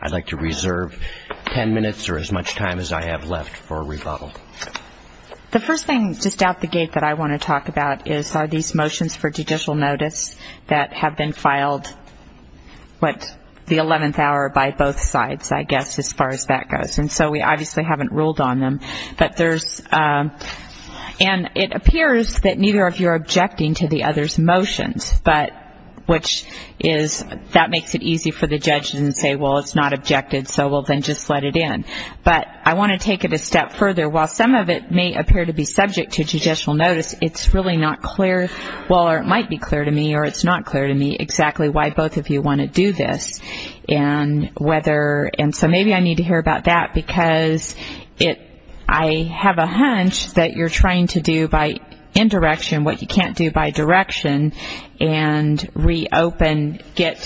I'd like to reserve 10 minutes or as much time as I have left for a rebuttal. The first thing, just out the gate, that I want to talk about is are these motions for judicial notice that have been filed, what, the 11th hour by both sides, I guess, as far as that goes. And so we obviously haven't ruled on them. But there's, and it appears that neither of you are objecting to the other's motions. But, which is, that makes it easy for the judges to say, well, it's not objected, so we'll then just let it in. But I want to take it a step further. While some of it may appear to be subject to judicial notice, it's really not clear, well, or it might be clear to me or it's not clear to me exactly why both of you want to do this. And whether, and so maybe I need to hear about that because it, I have a hunch that you're trying to do by indirection what you can't do by direction and reopen, get,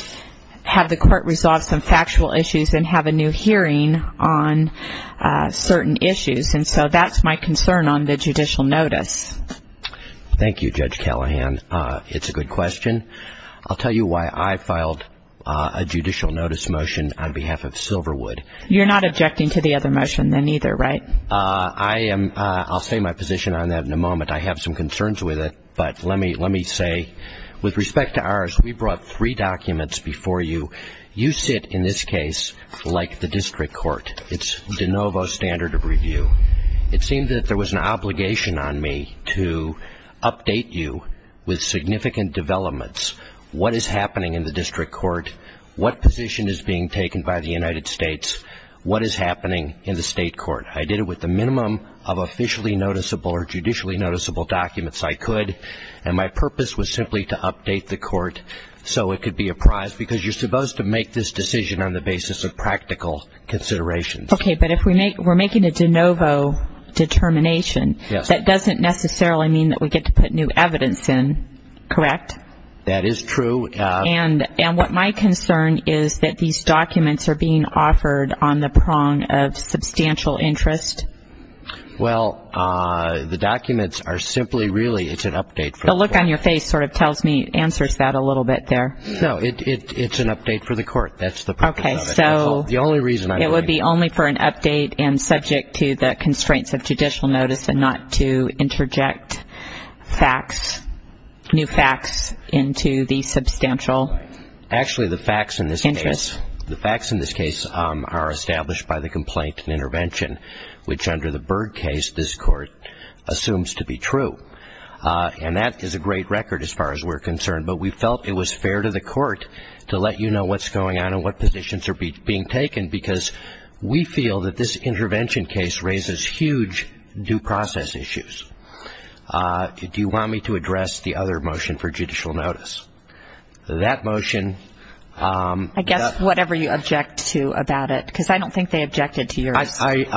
have the court resolve some factual issues and have a new hearing on certain issues. And so that's my concern on the judicial notice. Thank you, Judge Callahan. It's a good question. I'll tell you why I filed a judicial notice motion on behalf of Silverwood. You're not objecting to the other motion then either, right? I am, I'll say my position on that in a moment. I have some concerns with it. But let me say, with respect to ours, we brought three documents before you. You sit, in this case, like the district court. It's de novo standard of review. It seemed that there was an obligation on me to update you with significant developments. What is happening in the district court? What position is being taken by the United States? What is happening in the state court? I did it with the minimum of officially noticeable or judicially noticeable documents I could. And my purpose was simply to update the court so it could be apprised, because you're supposed to make this decision on the basis of practical considerations. Okay, but if we're making a de novo determination, that doesn't necessarily mean that we get to put new evidence in, correct? That is true. And what my concern is that these documents are being offered on the prong of substantial interest. Well, the documents are simply really, it's an update for the court. The look on your face sort of tells me, answers that a little bit there. No, it's an update for the court. That's the purpose of it. So it would be only for an update and subject to the constraints of judicial notice and not to interject facts, new facts, into the substantial interest. Actually, the facts in this case are established by the complaint and intervention, which under the Byrd case this court assumes to be true. And that is a great record as far as we're concerned. But we felt it was fair to the court to let you know what's going on and what positions are being taken, because we feel that this intervention case raises huge due process issues. Do you want me to address the other motion for judicial notice? That motion. I guess whatever you object to about it, because I don't think they objected to yours. The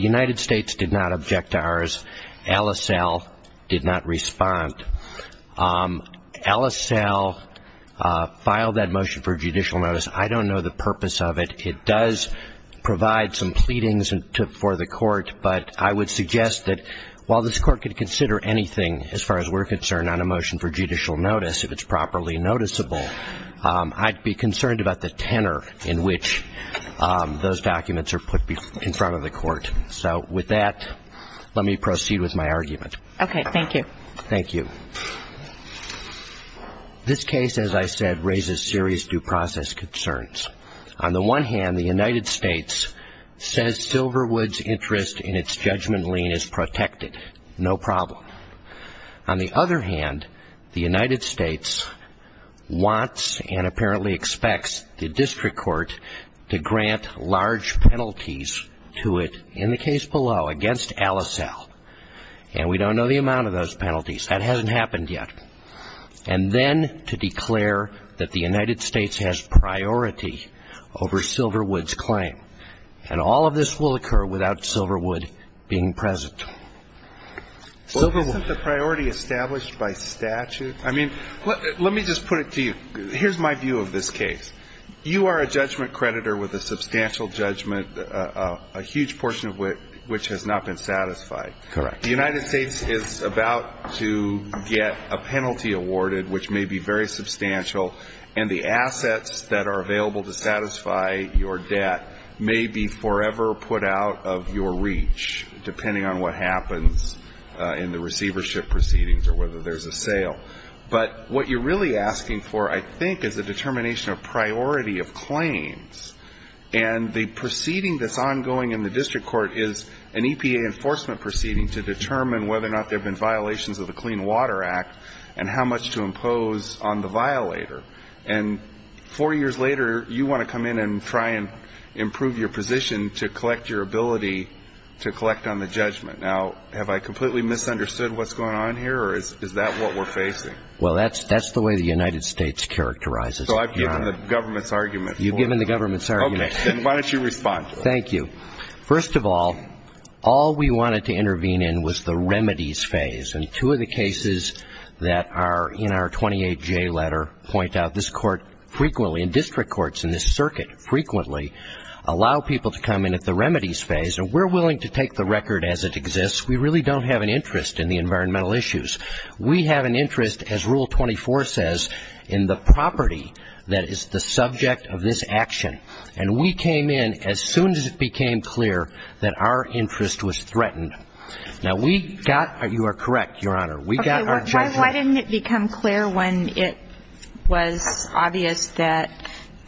United States did not object to ours. LSL did not respond. LSL filed that motion for judicial notice. I don't know the purpose of it. It does provide some pleadings for the court, but I would suggest that while this court could consider anything, as far as we're concerned, on a motion for judicial notice, if it's properly noticeable, I'd be concerned about the tenor in which those documents are put in front of the court. So with that, let me proceed with my argument. Okay, thank you. Thank you. This case, as I said, raises serious due process concerns. On the one hand, the United States says Silverwood's interest in its judgment lien is protected. No problem. On the other hand, the United States wants and apparently expects the district court to grant large penalties to it, in the case below, against LSL. And we don't know the amount of those penalties. That hasn't happened yet. And then to declare that the United States has priority over Silverwood's claim. And all of this will occur without Silverwood being present. Silverwood. Isn't the priority established by statute? I mean, let me just put it to you. Here's my view of this case. You are a judgment creditor with a substantial judgment, a huge portion of which has not been satisfied. Correct. The United States is about to get a penalty awarded, which may be very substantial, and the assets that are available to satisfy your debt may be forever put out of your reach, depending on what happens in the receivership proceedings or whether there's a sale. But what you're really asking for, I think, is a determination of priority of claims. And the proceeding that's ongoing in the district court is an EPA enforcement proceeding to determine whether or not there have been violations of the Clean Water Act and how much to impose on the violator. And four years later, you want to come in and try and improve your position to collect your ability to collect on the judgment. Now, have I completely misunderstood what's going on here, or is that what we're facing? Well, that's the way the United States characterizes it. So I've given the government's argument. You've given the government's argument. Okay. Then why don't you respond? Thank you. First of all, all we wanted to intervene in was the remedies phase. And two of the cases that are in our 28J letter point out this court frequently, and district courts in this circuit frequently, allow people to come in at the remedies phase. And we're willing to take the record as it exists. We really don't have an interest in the environmental issues. We have an interest, as Rule 24 says, in the property that is the subject of this action. And we came in as soon as it became clear that our interest was threatened. Now, we got you are correct, Your Honor. Why didn't it become clear when it was obvious that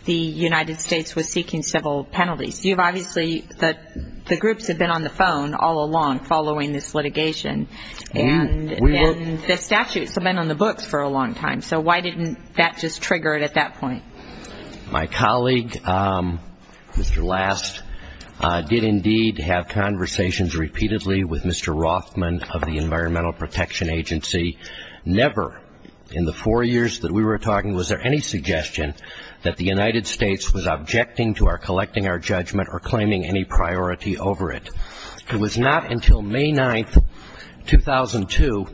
the United States was seeking civil penalties? You've obviously, the groups have been on the phone all along following this litigation. And the statutes have been on the books for a long time. So why didn't that just trigger it at that point? My colleague, Mr. Last, did indeed have conversations repeatedly with Mr. Rothman of the Environmental Protection Agency. Never in the four years that we were talking was there any suggestion that the United States was objecting to our collecting our judgment or claiming any priority over it. It was not until May 9th, 2002,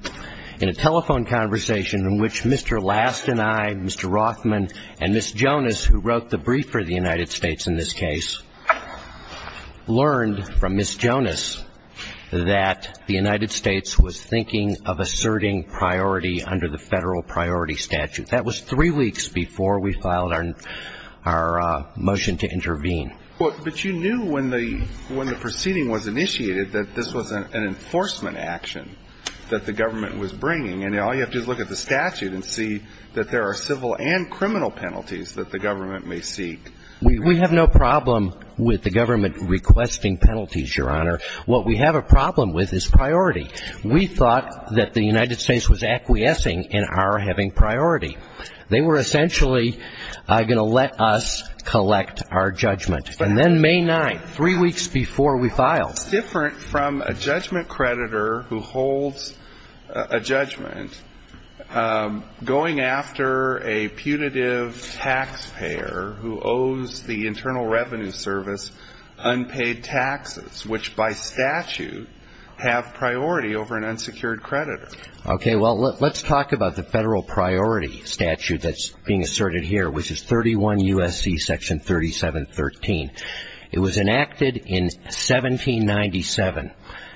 in a telephone conversation in which Mr. Last and I, Mr. Rothman and Ms. Jonas, who wrote the brief for the United States in this case, learned from Ms. Jonas that the United States was thinking of asserting priority under the Federal Priority Statute. That was three weeks before we filed our motion to intervene. But you knew when the proceeding was initiated that this was an enforcement action that the government was bringing. And all you have to do is look at the statute and see that there are civil and criminal penalties that the government may seek. We have no problem with the government requesting penalties, Your Honor. What we have a problem with is priority. We thought that the United States was acquiescing in our having priority. They were essentially going to let us collect our judgment. And then May 9th, three weeks before we filed. It's different from a judgment creditor who holds a judgment going after a punitive taxpayer who owes the Internal Revenue Service unpaid taxes, which by statute have priority over an unsecured creditor. Okay. Well, let's talk about the Federal Priority Statute that's being asserted here, which is 31 U.S.C. Section 3713. It was enacted in 1797.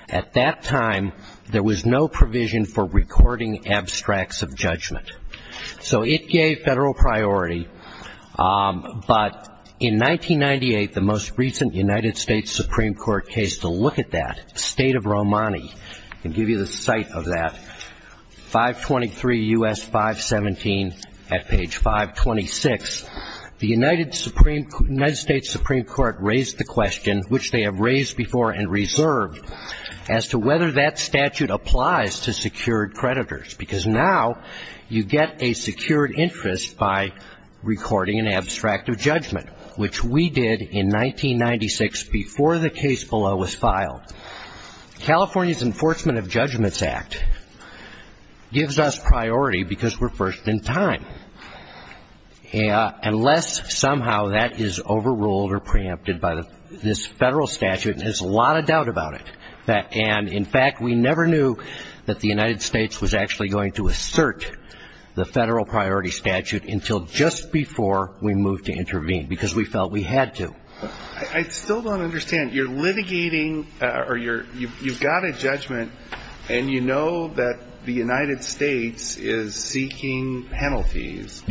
At that time, there was no provision for recording abstracts of judgment. So it gave federal priority. But in 1998, the most recent United States Supreme Court case to look at that, State of Romani, I'll give you the site of that, 523 U.S. 517 at page 526. The United States Supreme Court raised the question, which they have raised before and reserved, as to whether that statute applies to secured creditors. Because now you get a secured interest by recording an abstract of judgment, which we did in 1996 before the case below was filed. California's Enforcement of Judgments Act gives us priority because we're first in time. Unless somehow that is overruled or preempted by this federal statute, and there's a lot of doubt about it. And, in fact, we never knew that the United States was actually going to assert the Federal Priority Statute until just before we moved to intervene, because we felt we had to. I still don't understand. You've got a judgment, and you know that the United States is seeking penalties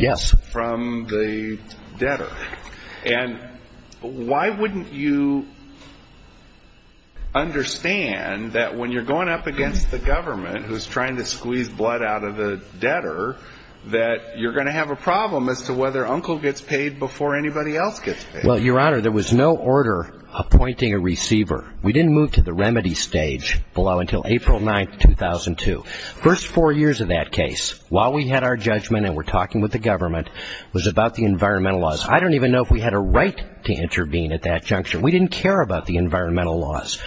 from the debtor. And why wouldn't you understand that when you're going up against the government who's trying to squeeze blood out of the debtor, that you're going to have a problem as to whether Uncle gets paid before anybody else gets paid? Well, Your Honor, there was no order appointing a receiver. We didn't move to the remedy stage below until April 9, 2002. First four years of that case, while we had our judgment and were talking with the government, was about the environmental laws. I don't even know if we had a right to intervene at that juncture. We didn't care about the environmental laws.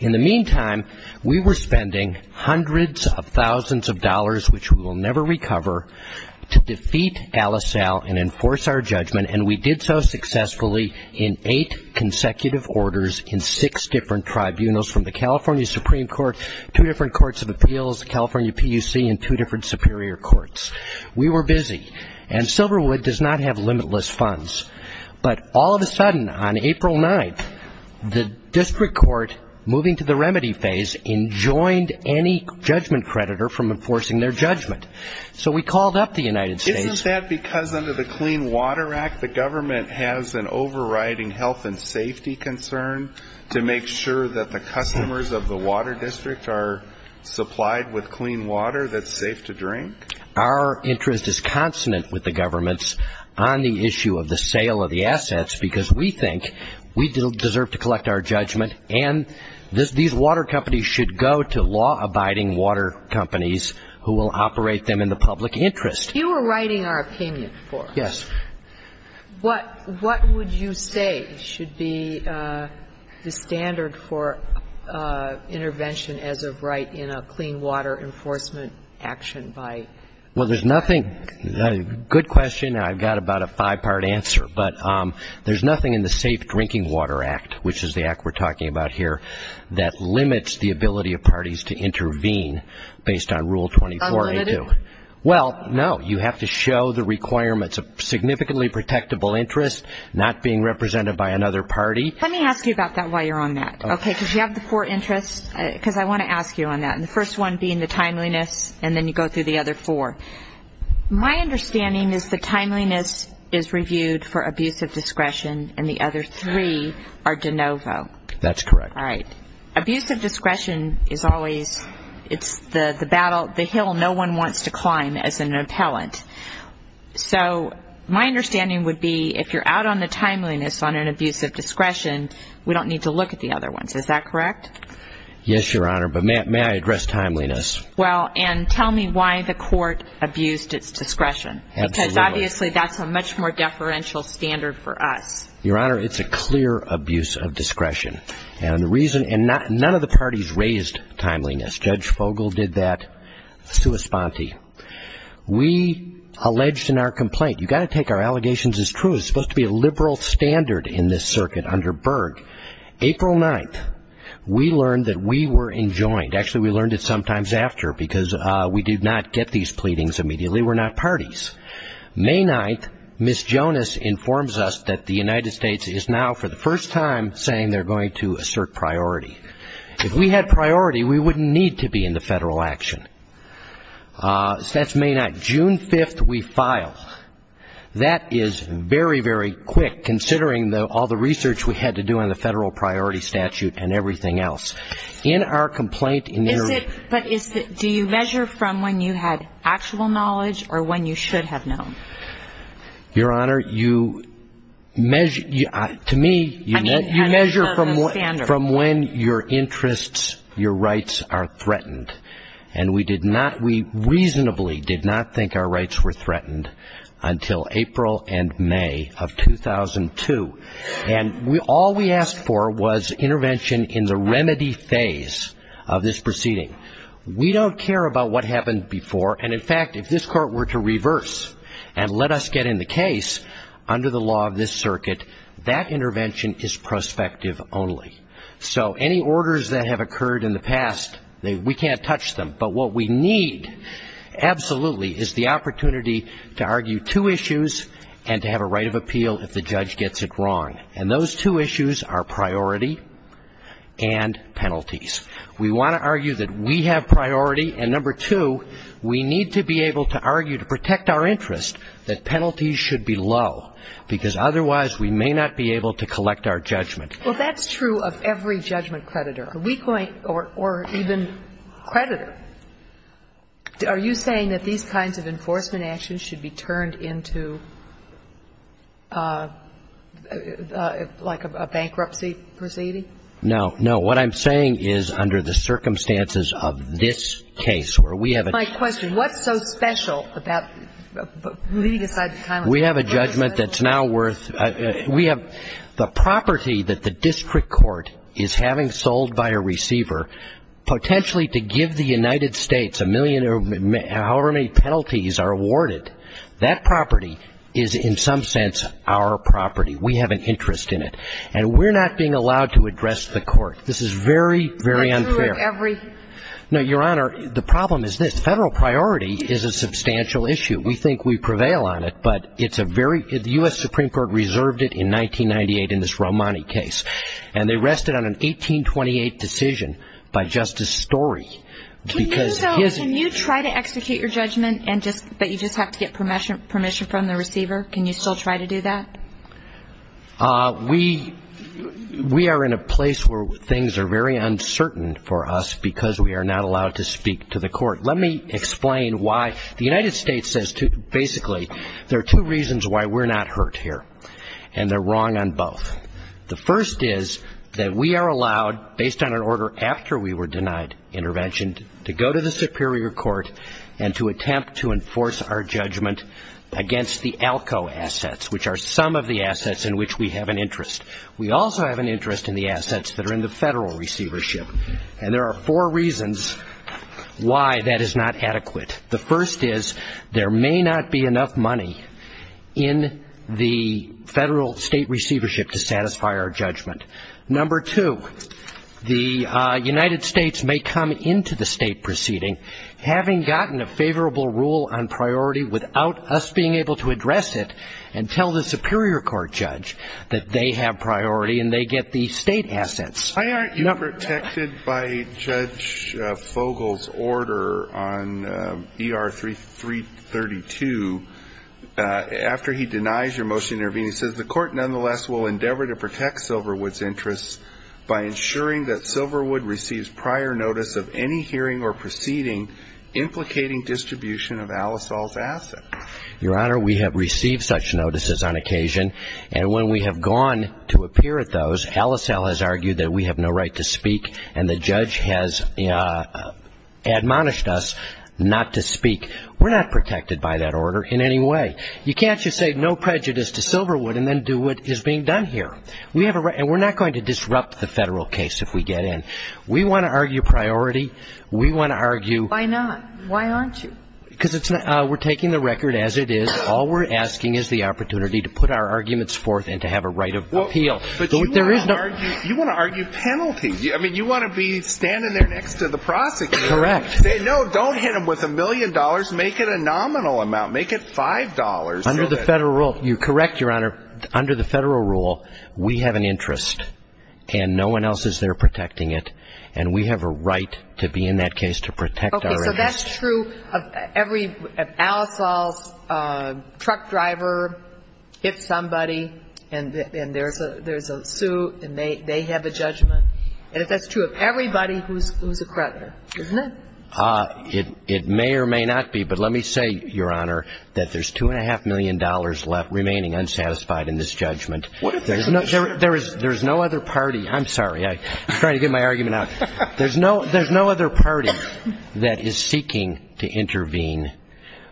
In the meantime, we were spending hundreds of thousands of dollars, which we will never recover, to defeat Al-Asal and enforce our judgment. And we did so successfully in eight consecutive orders in six different tribunals, from the California Supreme Court, two different courts of appeals, the California PUC, and two different superior courts. We were busy. And Silverwood does not have limitless funds. But all of a sudden, on April 9, the district court, moving to the remedy phase, enjoined any judgment creditor from enforcing their judgment. So we called up the United States. Isn't that because under the Clean Water Act, the government has an overriding health and safety concern to make sure that the customers of the water district are supplied with clean water that's safe to drink? Our interest is consonant with the government's on the issue of the sale of the assets, because we think we deserve to collect our judgment, and these water companies should go to law-abiding water companies who will operate them in the public interest. You were writing our opinion before. Yes. What would you say should be the standard for intervention as of right in a clean water enforcement action by the government? Well, there's nothing — good question. I've got about a five-part answer. But there's nothing in the Safe Drinking Water Act, which is the act we're talking about here, that limits the ability of parties to intervene based on Rule 24A2. Unlimited? Well, no. You have to show the requirements of significantly protectable interest, not being represented by another party. Let me ask you about that while you're on that, okay, because you have the four interests, because I want to ask you on that, and the first one being the timeliness, and then you go through the other four. My understanding is the timeliness is reviewed for abuse of discretion, and the other three are de novo. That's correct. All right. Abuse of discretion is always — it's the battle, the hill no one wants to climb as an appellant. So my understanding would be if you're out on the timeliness on an abuse of discretion, we don't need to look at the other ones. Is that correct? Yes, Your Honor. But may I address timeliness? Well, and tell me why the court abused its discretion. Absolutely. Because obviously that's a much more deferential standard for us. Your Honor, it's a clear abuse of discretion. And the reason — and none of the parties raised timeliness. Judge Fogel did that. Sue Esponti. We alleged in our complaint — you've got to take our allegations as true. There's supposed to be a liberal standard in this circuit under Berg. April 9th, we learned that we were enjoined. Actually, we learned it sometimes after because we did not get these pleadings immediately. We're not parties. May 9th, Ms. Jonas informs us that the United States is now for the first time saying they're going to assert priority. If we had priority, we wouldn't need to be in the federal action. So that's May 9th. June 5th, we file. That is very, very quick considering all the research we had to do on the federal priority statute and everything else. In our complaint — But do you measure from when you had actual knowledge or when you should have known? Your Honor, you measure — to me, you measure from when your interests, your rights are threatened. And we did not — we reasonably did not think our rights were threatened until April and May of 2002. And all we asked for was intervention in the remedy phase of this proceeding. We don't care about what happened before. And, in fact, if this Court were to reverse and let us get in the case under the law of this circuit, that intervention is prospective only. So any orders that have occurred in the past, we can't touch them. But what we need absolutely is the opportunity to argue two issues and to have a right of appeal if the judge gets it wrong. And those two issues are priority and penalties. We want to argue that we have priority. And, number two, we need to be able to argue to protect our interest that penalties should be low, because otherwise we may not be able to collect our judgment. Well, that's true of every judgment creditor. Could we point — or even creditor. Are you saying that these kinds of enforcement actions should be turned into, like, a bankruptcy proceeding? No. No. What I'm saying is under the circumstances of this case, where we have a — My question, what's so special about — leaving aside the time — We have a judgment that's now worth — We have — the property that the district court is having sold by a receiver, potentially to give the United States a million or however many penalties are awarded, that property is in some sense our property. We have an interest in it. And we're not being allowed to address the court. This is very, very unfair. But true of every — No, Your Honor, the problem is this. Federal priority is a substantial issue. We think we prevail on it. But it's a very — the U.S. Supreme Court reserved it in 1998 in this Romani case. And they rested on an 1828 decision by Justice Story. Can you try to execute your judgment, but you just have to get permission from the receiver? Can you still try to do that? We are in a place where things are very uncertain for us because we are not allowed to speak to the court. Let me explain why. The United States says basically there are two reasons why we're not hurt here. And they're wrong on both. The first is that we are allowed, based on an order after we were denied intervention, to go to the superior court and to attempt to enforce our judgment against the ALCO assets, which are some of the assets in which we have an interest. We also have an interest in the assets that are in the federal receivership. And there are four reasons why that is not adequate. The first is there may not be enough money in the federal state receivership to satisfy our judgment. Number two, the United States may come into the state proceeding, having gotten a favorable rule on priority without us being able to address it and tell the superior court judge that they have priority and they get the state assets. Why aren't you protected by Judge Fogel's order on ER332 after he denies your motion to intervene? He says, The court nonetheless will endeavor to protect Silverwood's interests by ensuring that Silverwood receives prior notice of any hearing or proceeding implicating distribution of Alice Hall's assets. Your Honor, we have received such notices on occasion. And when we have gone to appear at those, Alice Hall has argued that we have no right to speak and the judge has admonished us not to speak. We're not protected by that order in any way. You can't just say no prejudice to Silverwood and then do what is being done here. And we're not going to disrupt the federal case if we get in. We want to argue priority. We want to argue. Why not? Why aren't you? Because we're taking the record as it is. All we're asking is the opportunity to put our arguments forth and to have a right of appeal. But you want to argue penalty. I mean, you want to be standing there next to the prosecutor. Correct. No, don't hit him with a million dollars. Make it a nominal amount. Make it $5. Under the federal rule, you're correct, Your Honor. Under the federal rule, we have an interest and no one else is there protecting it. And we have a right to be in that case to protect our interests. If that's true, if Al-Asal's truck driver hits somebody and there's a suit and they have a judgment, and if that's true of everybody who's a creditor, isn't it? It may or may not be. But let me say, Your Honor, that there's $2.5 million left remaining unsatisfied in this judgment. There's no other party. I'm sorry. I'm trying to get my argument out. There's no other party that is seeking to intervene.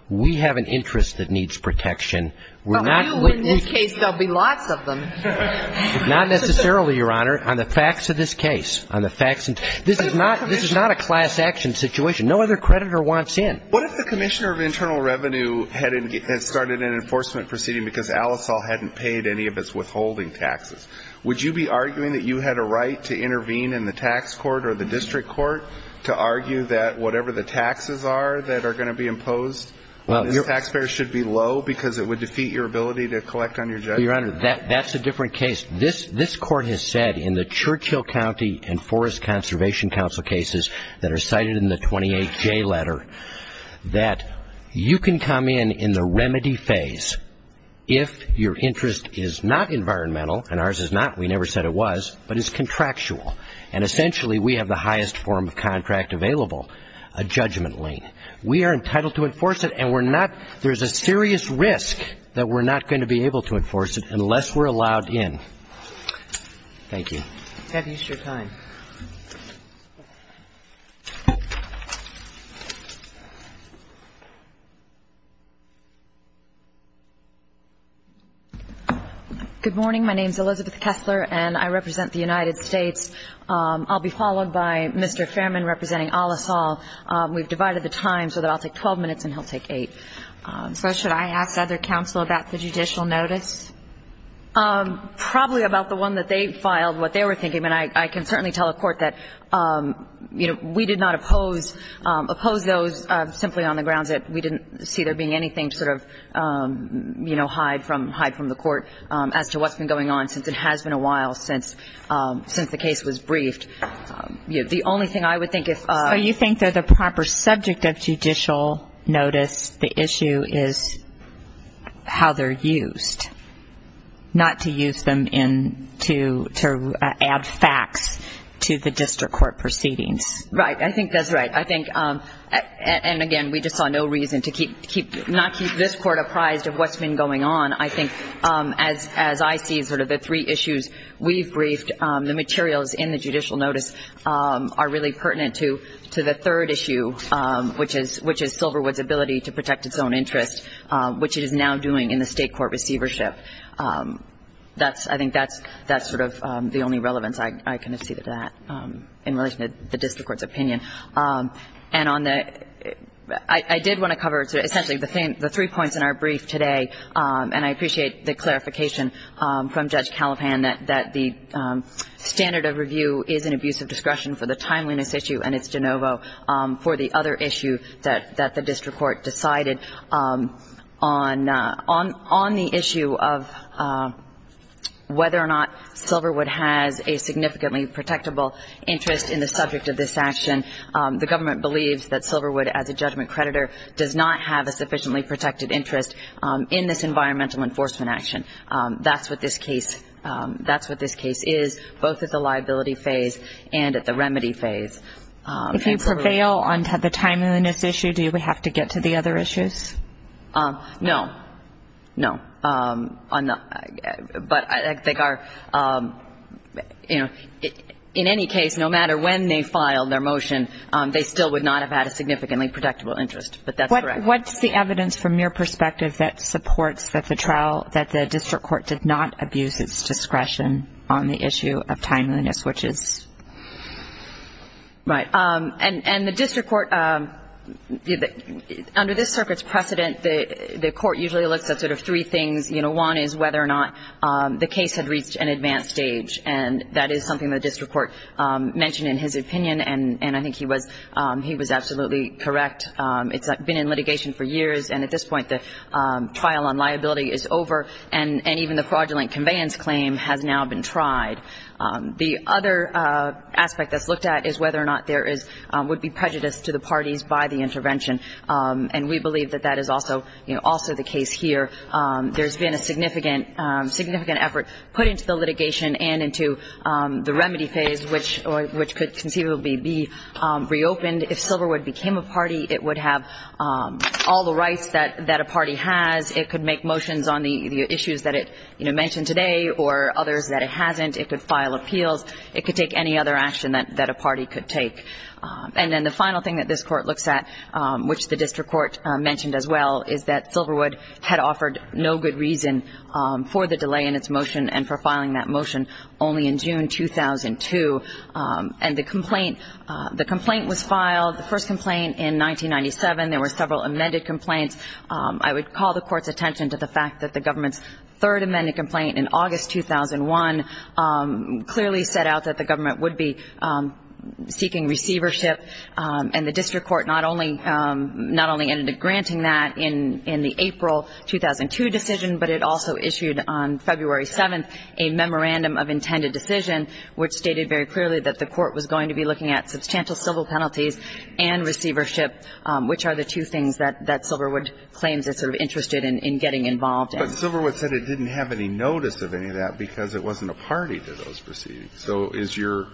We have an interest that needs protection. But you, in this case, there will be lots of them. Not necessarily, Your Honor. On the facts of this case. This is not a class action situation. No other creditor wants in. What if the Commissioner of Internal Revenue had started an enforcement proceeding because Al-Asal hadn't paid any of its withholding taxes? Would you be arguing that you had a right to intervene in the tax court or the district court to argue that whatever the taxes are that are going to be imposed, the taxpayers should be low because it would defeat your ability to collect on your judgment? Your Honor, that's a different case. This Court has said in the Churchill County and Forest Conservation Council cases that are cited in the 28J letter that you can come in in the remedy phase if your interest is not environmental, and ours is not. We never said it was. But it's contractual. And essentially, we have the highest form of contract available, a judgment lien. We are entitled to enforce it, and we're not – there's a serious risk that we're not going to be able to enforce it unless we're allowed in. Thank you. Have your time. Good morning. My name is Elizabeth Kessler, and I represent the United States. I'll be followed by Mr. Fairman representing Al-Asal. We've divided the time so that I'll take 12 minutes and he'll take 8. So should I ask other counsel about the judicial notice? Probably about the one that they filed, what they were thinking. I mean, I can certainly tell a court that, you know, we did not oppose those simply on the grounds that we didn't see there being anything to sort of, you know, hide from the court as to what's been going on since it has been a while since the case was briefed. The only thing I would think if – Oh, you think that the proper subject of judicial notice, the issue is how they're used, not to use them in – to add facts to the district court proceedings. Right. I think that's right. I think – and, again, we just saw no reason to keep – not keep this court apprised of what's been going on. I think as I see sort of the three issues we've briefed, the materials in the judicial notice are really pertinent to the third issue, which is Silverwood's ability to protect its own interest, which it is now doing in the State court receivership. That's – I think that's sort of the only relevance I can see to that in relation to the district court's opinion. And on the – I did want to cover essentially the three points in our brief today, and I appreciate the clarification from Judge Caliphan that the standard of review is an abuse of discretion for the timeliness issue and it's de novo for the other issue that the district court decided. On the issue of whether or not Silverwood has a significantly protectable interest in the subject of this action, the government believes that Silverwood, as a judgment creditor, does not have a sufficiently protected interest in this environmental enforcement action. That's what this case – that's what this case is, both at the liability phase and at the remedy phase. If you prevail on the timeliness issue, do we have to get to the other issues? No. No. But I think our – you know, in any case, no matter when they filed their motion, they still would not have had a significantly protectable interest. But that's correct. What's the evidence from your perspective that supports that the trial – that the district court did not abuse its discretion on the issue of timeliness, which is? Right. And the district court – under this circuit's precedent, the court usually looks at sort of three things. You know, one is whether or not the case had reached an advanced stage, and that is something the district court mentioned in his opinion, and I think he was – he was absolutely correct. It's been in litigation for years, and at this point the trial on liability is over, and even the fraudulent conveyance claim has now been tried. The other aspect that's looked at is whether or not there is – would be prejudice to the parties by the intervention, and we believe that that is also – you know, also the case here. There's been a significant effort put into the litigation and into the remedy phase, which could conceivably be reopened. If Silverwood became a party, it would have all the rights that a party has. It could make motions on the issues that it, you know, mentioned today or others that it hasn't. It could file appeals. It could take any other action that a party could take. And then the final thing that this court looks at, which the district court mentioned as well, is that Silverwood had offered no good reason for the delay in its motion and for filing that motion only in June 2002. And the complaint – the complaint was filed, the first complaint in 1997. There were several amended complaints. I would call the court's attention to the fact that the government's third amended complaint in August 2001 clearly set out that the government would be seeking receivership, and the district court not only ended up granting that in the April 2002 decision, but it also issued on February 7th a memorandum of intended decision, which stated very clearly that the court was going to be looking at substantial civil penalties and receivership, which are the two things that Silverwood claims it's sort of interested in getting involved in. But Silverwood said it didn't have any notice of any of that because it wasn't a party to those proceedings. So is your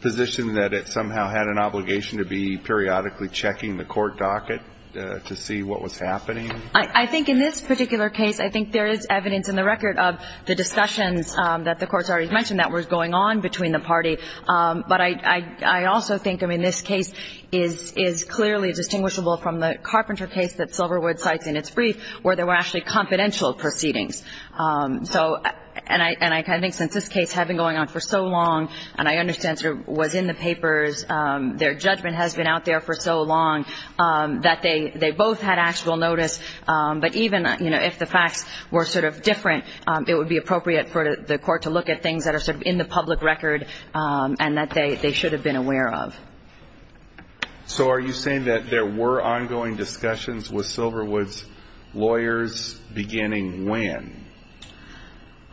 position that it somehow had an obligation to be periodically checking the court docket to see what was happening? I think in this particular case, I think there is evidence in the record of the discussions that the courts already mentioned that were going on between the party. But I also think, I mean, this case is clearly distinguishable from the Carpenter case that Silverwood cites in its brief where there were actually confidential proceedings. And I think since this case had been going on for so long, and I understand sort of was in the papers, their judgment has been out there for so long that they both had actual notice. But even if the facts were sort of different, it would be appropriate for the court to look at things that are sort of in the public record and that they should have been aware of. So are you saying that there were ongoing discussions with Silverwood's lawyers beginning when?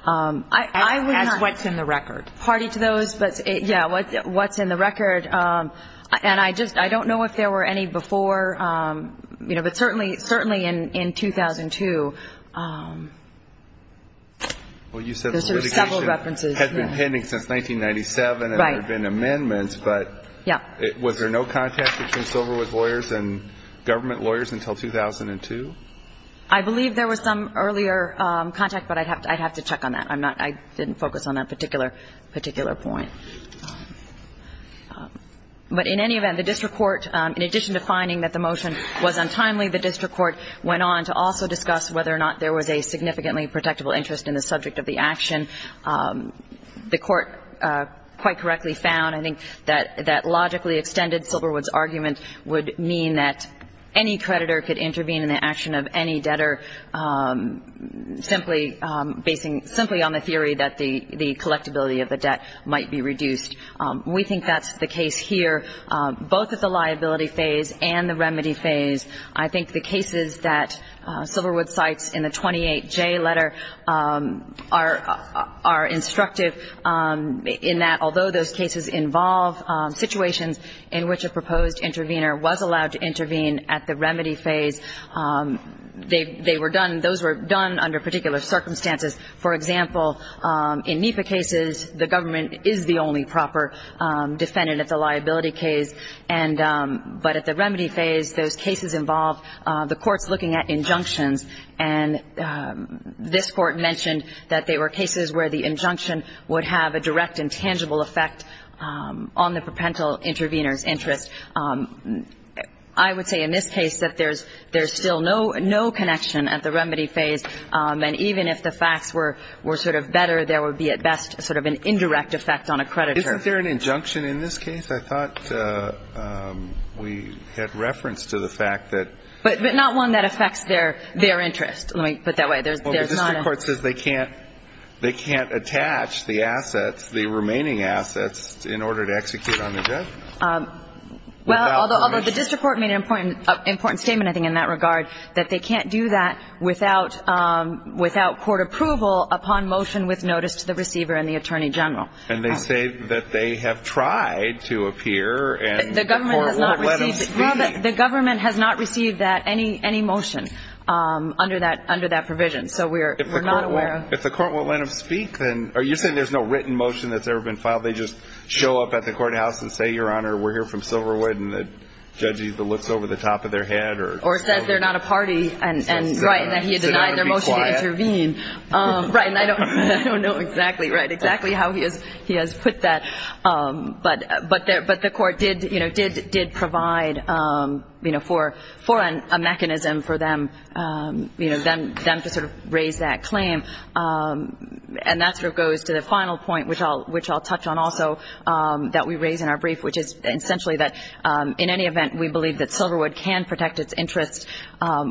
As what's in the record. Party to those, but yeah, what's in the record. And I don't know if there were any before, but certainly in 2002. Well, you said the litigation had been pending since 1997 and there had been amendments. But was there no contact between Silverwood's lawyers and government lawyers until 2002? I believe there was some earlier contact, but I'd have to check on that. I didn't focus on that particular point. But in any event, the district court, in addition to finding that the motion was untimely, the district court went on to also discuss whether or not there was a significantly protectable interest in the subject of the action. The court quite correctly found, I think, that that logically extended Silverwood's argument would mean that any creditor could intervene in the action of any debtor, simply on the theory that the collectability of the debt might be reduced. We think that's the case here, both at the liability phase and the remedy phase. I think the cases that Silverwood cites in the 28J letter are instructive in that although those cases involve situations in which a proposed intervener was allowed to intervene at the remedy phase, they were done, those were done under particular circumstances. For example, in NEPA cases, the government is the only proper defendant at the liability case. But at the remedy phase, those cases involve the courts looking at injunctions. And this Court mentioned that there were cases where the injunction would have a direct and tangible effect on the propential intervener's interest. I would say in this case that there's still no connection at the remedy phase. And even if the facts were sort of better, there would be at best sort of an indirect effect on a creditor. Isn't there an injunction in this case? I thought we had reference to the fact that the district court says they can't attach the assets, the remaining assets, in order to execute on the debt? Well, although the district court made an important statement, I think, in that regard, that they can't do that without court approval upon motion with notice to the receiver and the attorney general. And they say that they have tried to appear and the court won't let them speak. The government has not received any motion under that provision. So we're not aware of it. If the court won't let them speak, then are you saying there's no written motion that's ever been filed? They just show up at the courthouse and say, Your Honor, we're here from Silverwood, and the judge either looks over the top of their head or says they're not a party and that he denied their motion to intervene? Right, and I don't know exactly how he has put that. But the court did provide for a mechanism for them to sort of raise that claim. And that sort of goes to the final point, which I'll touch on also, that we raise in our brief, which is essentially that in any event, we believe that Silverwood can protect its interests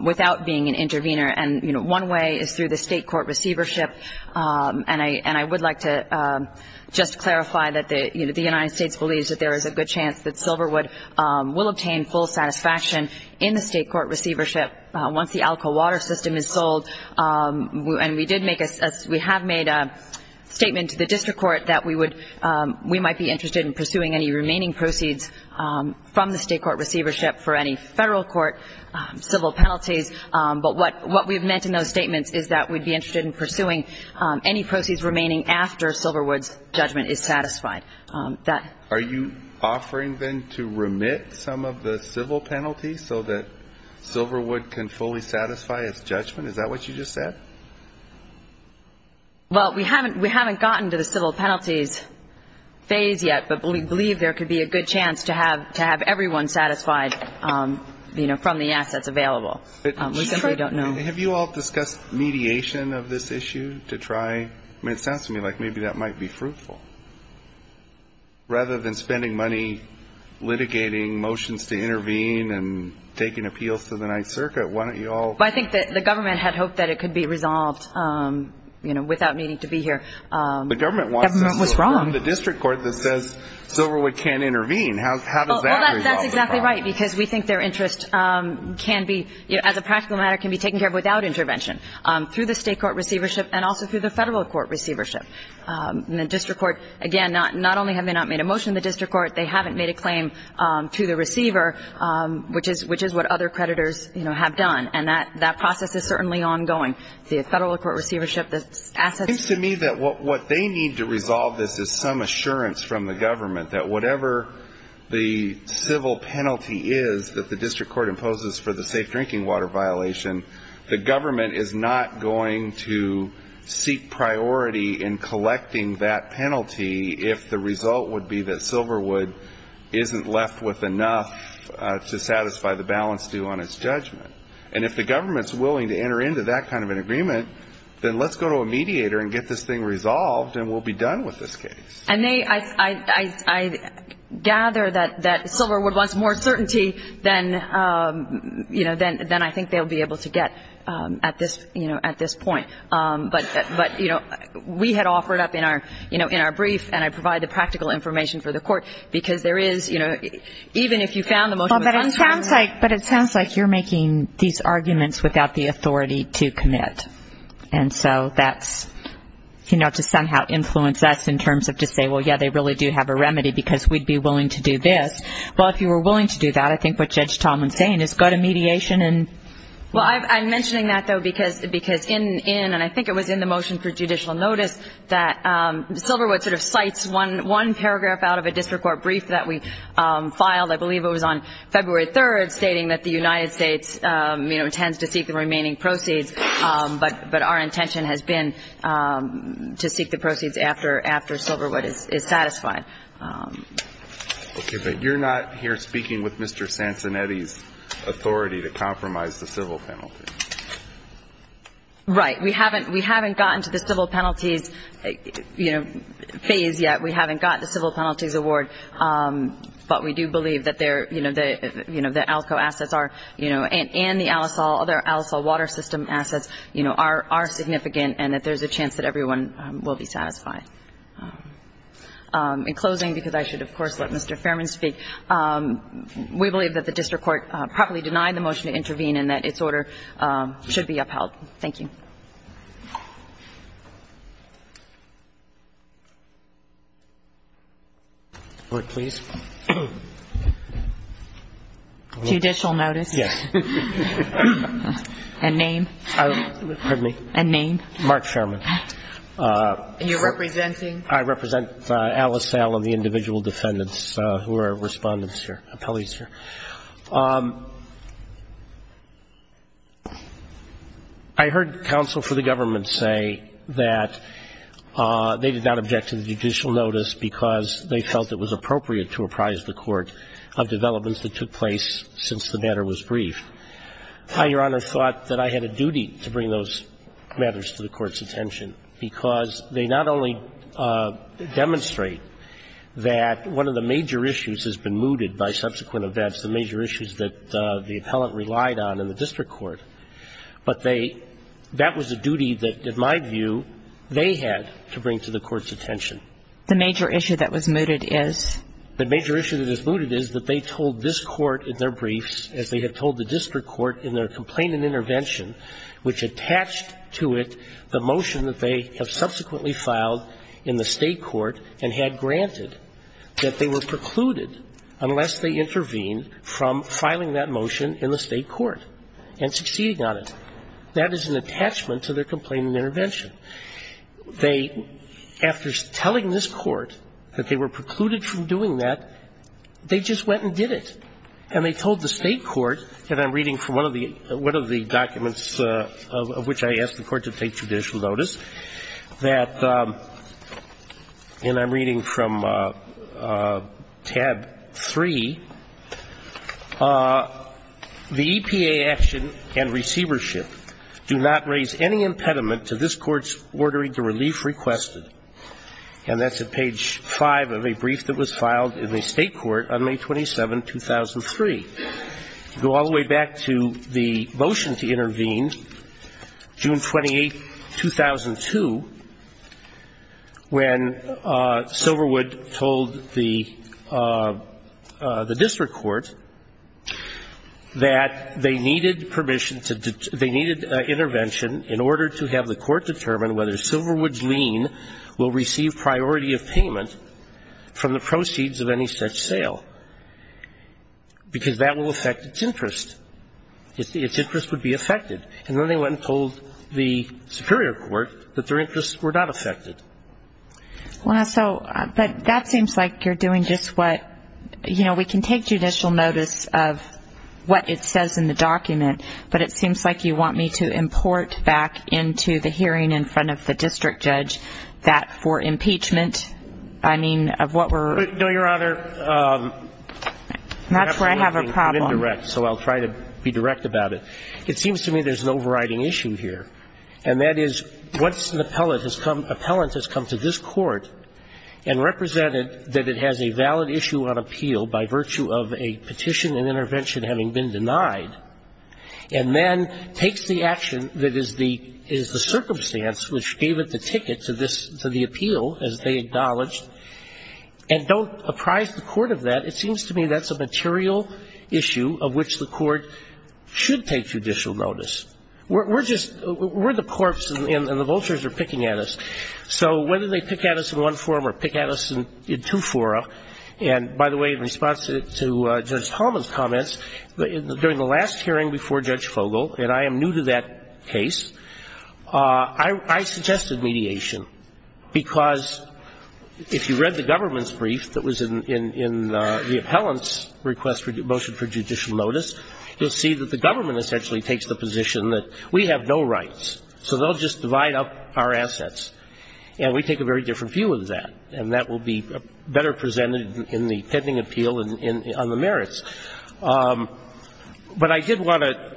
without being an intervener. And one way is through the state court receivership. And I would like to just clarify that the United States believes that there is a good chance that Silverwood will obtain full satisfaction in the state court receivership once the Alcoa Water System is sold. And we have made a statement to the district court that we might be interested in pursuing any remaining proceeds from the state court receivership for any federal court civil penalties. But what we have meant in those statements is that we'd be interested in pursuing any proceeds remaining after Silverwood's judgment is satisfied. Are you offering then to remit some of the civil penalties so that Silverwood can fully satisfy its judgment? Is that what you just said? Well, we haven't gotten to the civil penalties phase yet, but we believe there could be a good chance to have everyone satisfied from the assets available. We simply don't know. Have you all discussed mediation of this issue to try? I mean, it sounds to me like maybe that might be fruitful. Rather than spending money litigating motions to intervene and taking appeals to the Ninth Circuit, why don't you all? I think that the government had hoped that it could be resolved without needing to be here. The government wants to sue the district court that says Silverwood can't intervene. How does that resolve the problem? Well, that's exactly right because we think their interest can be, as a practical matter, can be taken care of without intervention through the state court receivership and also through the federal court receivership. And the district court, again, not only have they not made a motion to the district court, they haven't made a claim to the receiver, which is what other creditors have done. And that process is certainly ongoing. The federal court receivership, the assets. It seems to me that what they need to resolve this is some assurance from the government that whatever the civil penalty is that the district court imposes for the safe drinking water violation, the government is not going to seek priority in collecting that penalty if the result would be that Silverwood isn't left with enough to satisfy the balance due on its judgment. And if the government is willing to enter into that kind of an agreement, then let's go to a mediator and get this thing resolved and we'll be done with this case. And I gather that Silverwood wants more certainty than, you know, than I think they'll be able to get at this point. But, you know, we had offered up in our brief, and I provide the practical information for the court, because there is, you know, even if you found the motion was uncertain. But it sounds like you're making these arguments without the authority to commit. And so that's, you know, to somehow influence us in terms of to say, well, yeah, they really do have a remedy because we'd be willing to do this. Well, if you were willing to do that, I think what Judge Tomlin is saying is go to mediation. Well, I'm mentioning that, though, because in, and I think it was in the motion for judicial notice, that Silverwood sort of cites one paragraph out of a district court brief that we filed. I believe it was on February 3rd stating that the United States, you know, intends to seek the remaining proceeds. But our intention has been to seek the proceeds after Silverwood is satisfied. Okay. But you're not here speaking with Mr. Sansonetti's authority to compromise the civil penalty. Right. We haven't gotten to the civil penalties, you know, phase yet. We haven't gotten the civil penalties award, but we do believe that they're, you know, the ALCO assets are, you know, and the other Al-Asal water system assets, you know, are significant and that there's a chance that everyone will be satisfied. In closing, because I should, of course, let Mr. Fairman speak, we believe that the district court properly denied the motion to intervene and that its order should be upheld. Thank you. Court, please. Judicial notice. Yes. And name. Pardon me. And name. Mark Fairman. And you're representing? I represent Al-Asal and the individual defendants who are respondents here, appellees here. I heard counsel for the government say that they did not object to the judicial notice because they felt it was appropriate to apprise the court of developments that took place since the matter was briefed. I, Your Honor, thought that I had a duty to bring those matters to the Court's attention, because they not only demonstrate that one of the major issues has been mooted by subsequent events, the major issues that the appellant relied on in the district court, but that was a duty that, in my view, they had to bring to the Court's attention. The major issue that was mooted is? The major issue that was mooted is that they told this court in their briefs, as they had told the district court in their complaint and intervention, which attached to it the motion that they have subsequently filed in the state court and had granted, that they were precluded unless they intervened from filing that motion in the state court and succeeding on it. That is an attachment to their complaint and intervention. They, after telling this court that they were precluded from doing that, they just went and did it. And they told the state court, and I'm reading from one of the documents of which I asked the Court to take judicial notice, that, and I'm reading from tab 3, the EPA action and receivership do not raise any impediment to this Court's ordering the relief requested, and that's at page 5 of a brief that was filed in the state court on May 27, 2003. Go all the way back to the motion to intervene, June 28, 2002, when Silverwood told the district court that they needed permission to, they needed intervention in order to have the court determine whether Silverwood's lien will receive priority of payment from the proceeds of any such sale. Because that will affect its interest. Its interest would be affected. And then they went and told the superior court that their interests were not affected. Well, so, but that seems like you're doing just what, you know, we can take judicial notice of what it says in the document, but it seems like you want me to import back into the hearing in front of the district judge that for impeachment, I mean, of what sort? No, Your Honor. That's where I have a problem. So I'll try to be direct about it. It seems to me there's an overriding issue here, and that is once an appellant has come to this court and represented that it has a valid issue on appeal by virtue of a petition and intervention having been denied, and then takes the action that is the circumstance which gave it the ticket to this, to the appeal, as they acknowledged, and don't apprise the court of that, it seems to me that's a material issue of which the court should take judicial notice. We're just, we're the corpse and the vultures are picking at us. So whether they pick at us in one form or pick at us in two-fora, and by the way, in response to Judge Coleman's comments, during the last hearing before Judge Fogel, and I am new to that case, I suggested mediation, because if you read the government's brief that was in the appellant's request for motion for judicial notice, you'll see that the government essentially takes the position that we have no rights, so they'll just divide up our assets, and we take a very different view of that, and that will be better presented in the pending appeal on the merits. But I did want to,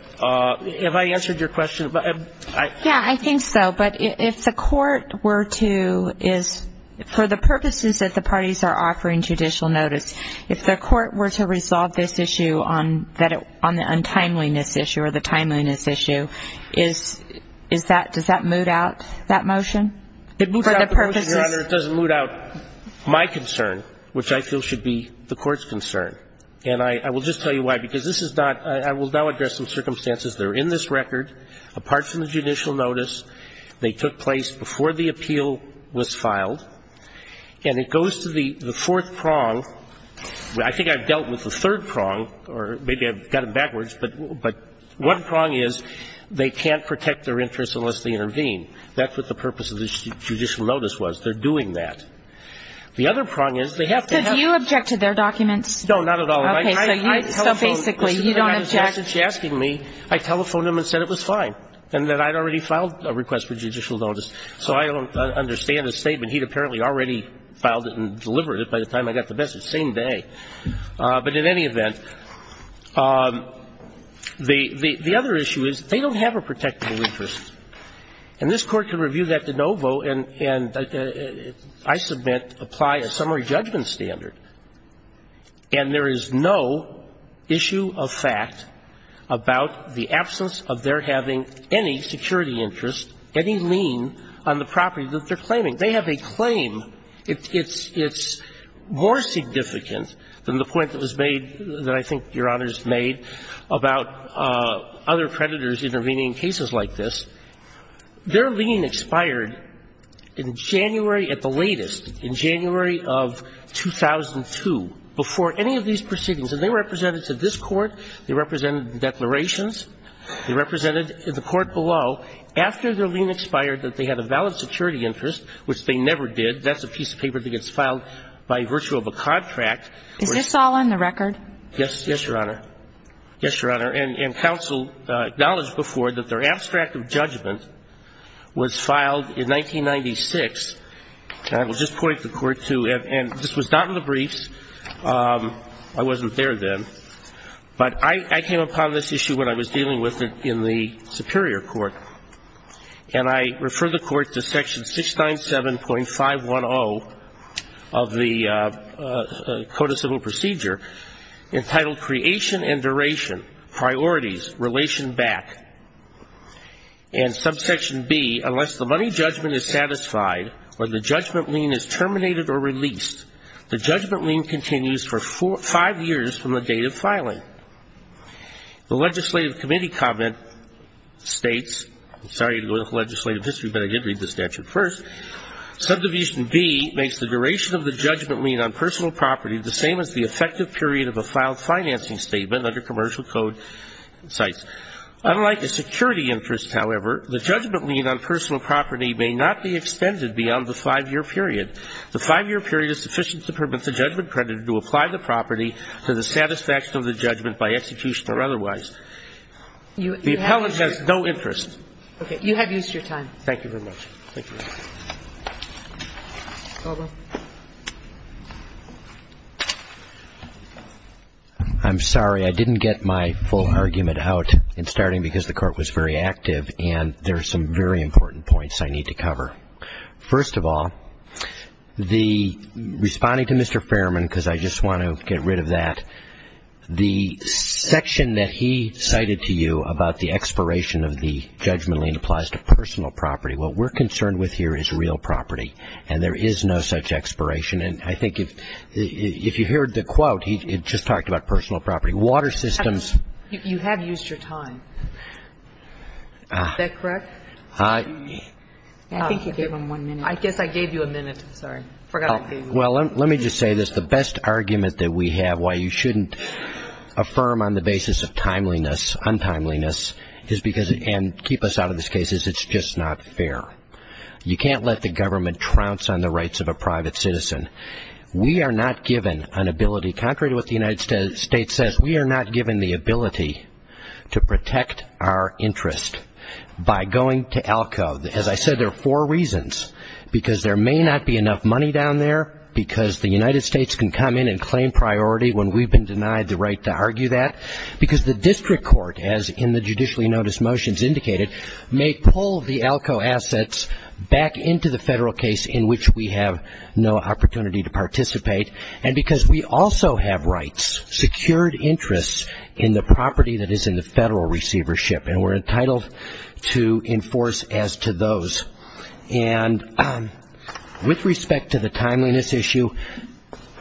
have I answered your question? Yeah, I think so, but if the court were to, for the purposes that the parties are offering judicial notice, if the court were to resolve this issue on the untimeliness issue, or the timeliness issue, does that moot out that motion? It doesn't moot out my concern, which I feel should be the court's concern, and I will just tell you why, because this is not, I will now address some circumstances that are in this record, apart from the judicial notice, they took place before the appeal was filed, and it goes to the fourth prong, I think I've dealt with the third prong, or maybe I've got it backwards, but one prong is they can't protect their interests unless they intervene. That's what the purpose of the judicial notice was. They're doing that. The other prong is they have to have. Could you object to their documents? No, not at all. Okay, so you, so basically you don't object. I telephoned him and said it was fine, and that I'd already filed a request for judicial notice, so I understand his statement. He'd apparently already filed it and delivered it by the time I got the message. Same day. But in any event, the other issue is they don't have a protectable interest, and this Court can review that de novo, and I submit, apply a summary judgment standard, and there is no issue of fact about the absence of their having any security interest, any lien on the property that they're claiming. They have a claim. It's more significant than the point that was made, that I think Your Honor's made, about other creditors intervening in cases like this. Their lien expired in January at the latest, in January of 2002, before any of these proceedings. And they were represented to this Court. They represented the declarations. They represented the Court below. After their lien expired that they had a valid security interest, which they never did, that's a piece of paper that gets filed by virtue of a contract. Is this all on the record? Yes, Your Honor. Yes, Your Honor. And counsel acknowledged before that their abstract of judgment was filed in 1996, and I will just point the Court to, and this was not in the briefs, I wasn't there then, but I came upon this issue when I was dealing with it in the Superior Court, and I refer the Court to section 697.510 of the Code of Civil Procedure entitled Creation and Duration, Priorities, Relation Back. And subsection B, unless the money judgment is satisfied or the judgment lien is terminated or released, the judgment lien continues for five years from the date of filing. The legislative committee comment states, sorry to go into legislative history, but I did read the statute first, subdivision B makes the duration of the judgment lien on personal property the same as the effective period of a filed financing statement under commercial code sites. Unlike the security interest, however, the judgment lien on personal property may not be extended beyond the five-year period. The five-year period is sufficient to permit the judgment creditor to apply the property to the satisfaction of the judgment by execution or otherwise. The appellant has no interest. Okay. You have used your time. Thank you very much. Thank you. I'm sorry. I didn't get my full argument out. It's starting because the court was very active, and there are some very important points I need to cover. First of all, the responding to Mr. Fairman, because I just want to get rid of that, the section that he cited to you about the expiration of the judgment lien applies to personal property. What we're concerned with here is real property, and there is no such expiration. And I think if you heard the quote, he just talked about personal property. Water systems. You have used your time. Is that correct? I think you gave him one minute. I guess I gave you a minute. I'm sorry. I forgot I gave you a minute. Well, let me just say this. The best argument that we have why you shouldn't affirm on the basis of timeliness, untimeliness, and keep us out of this case, is it's just not fair. You can't let the government trounce on the rights of a private citizen. We are not given an ability, contrary to what the United States says, we are not given the ability to protect our interest by going to ALCO. As I said, there are four reasons. Because there may not be enough money down there, because the United States can come in and claim priority when we've been denied the right to argue that. Because the district court, as in the judicially noticed motions indicated, may pull the ALCO assets back into the federal case in which we have no opportunity to participate. And because we also have rights, secured interests, in the property that is in the federal receivership, and we're entitled to enforce as to those. And with respect to the timeliness issue,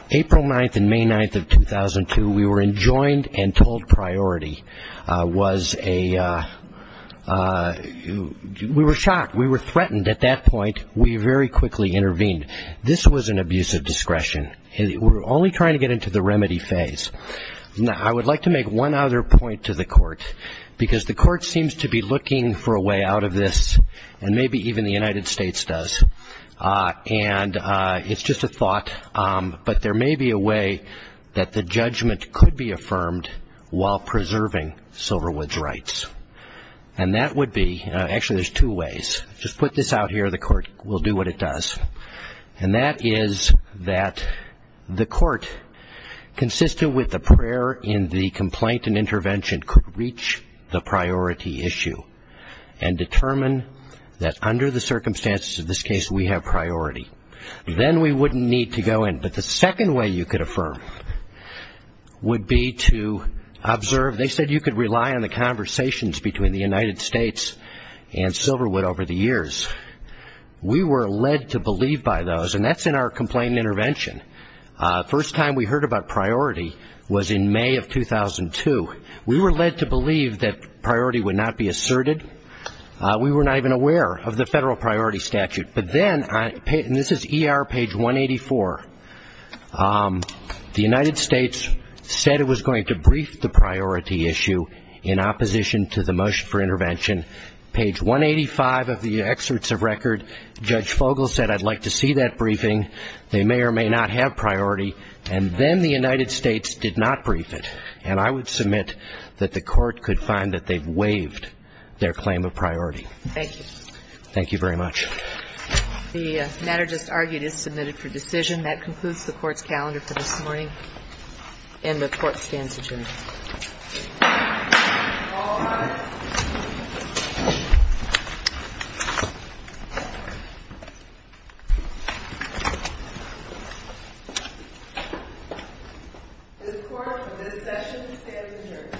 April 9th and May 9th of 2002, we were enjoined and told priority was a we were shocked. We were threatened at that point. We very quickly intervened. This was an abuse of discretion. We're only trying to get into the remedy phase. I would like to make one other point to the court, because the court seems to be looking for a way out of this, and maybe even the United States does. And it's just a thought, but there may be a way that the judgment could be affirmed while preserving Silverwood's rights. And that would be, actually there's two ways. Just put this out here and the court will do what it does. And that is that the court, consistent with the prayer in the complaint and intervention, could reach the priority issue and determine that under the circumstances of this case we have priority. Then we wouldn't need to go in. But the second way you could affirm would be to observe. They said you could rely on the conversations between the United States and Silverwood over the years. We were led to believe by those, and that's in our complaint and intervention. First time we heard about priority was in May of 2002. We were led to believe that priority would not be asserted. We were not even aware of the federal priority statute. But then, and this is ER page 184, the United States said it was going to brief the priority issue in opposition to the motion for intervention. Page 185 of the excerpts of record, Judge Fogle said, I'd like to see that briefing. They may or may not have priority. And then the United States did not brief it. And I would submit that the court could find that they've waived their claim of priority. Thank you. Thank you very much. The matter just argued is submitted for decision. That concludes the court's calendar for this morning, and the court stands adjourned. All rise. This court for this session stands adjourned. Thank you.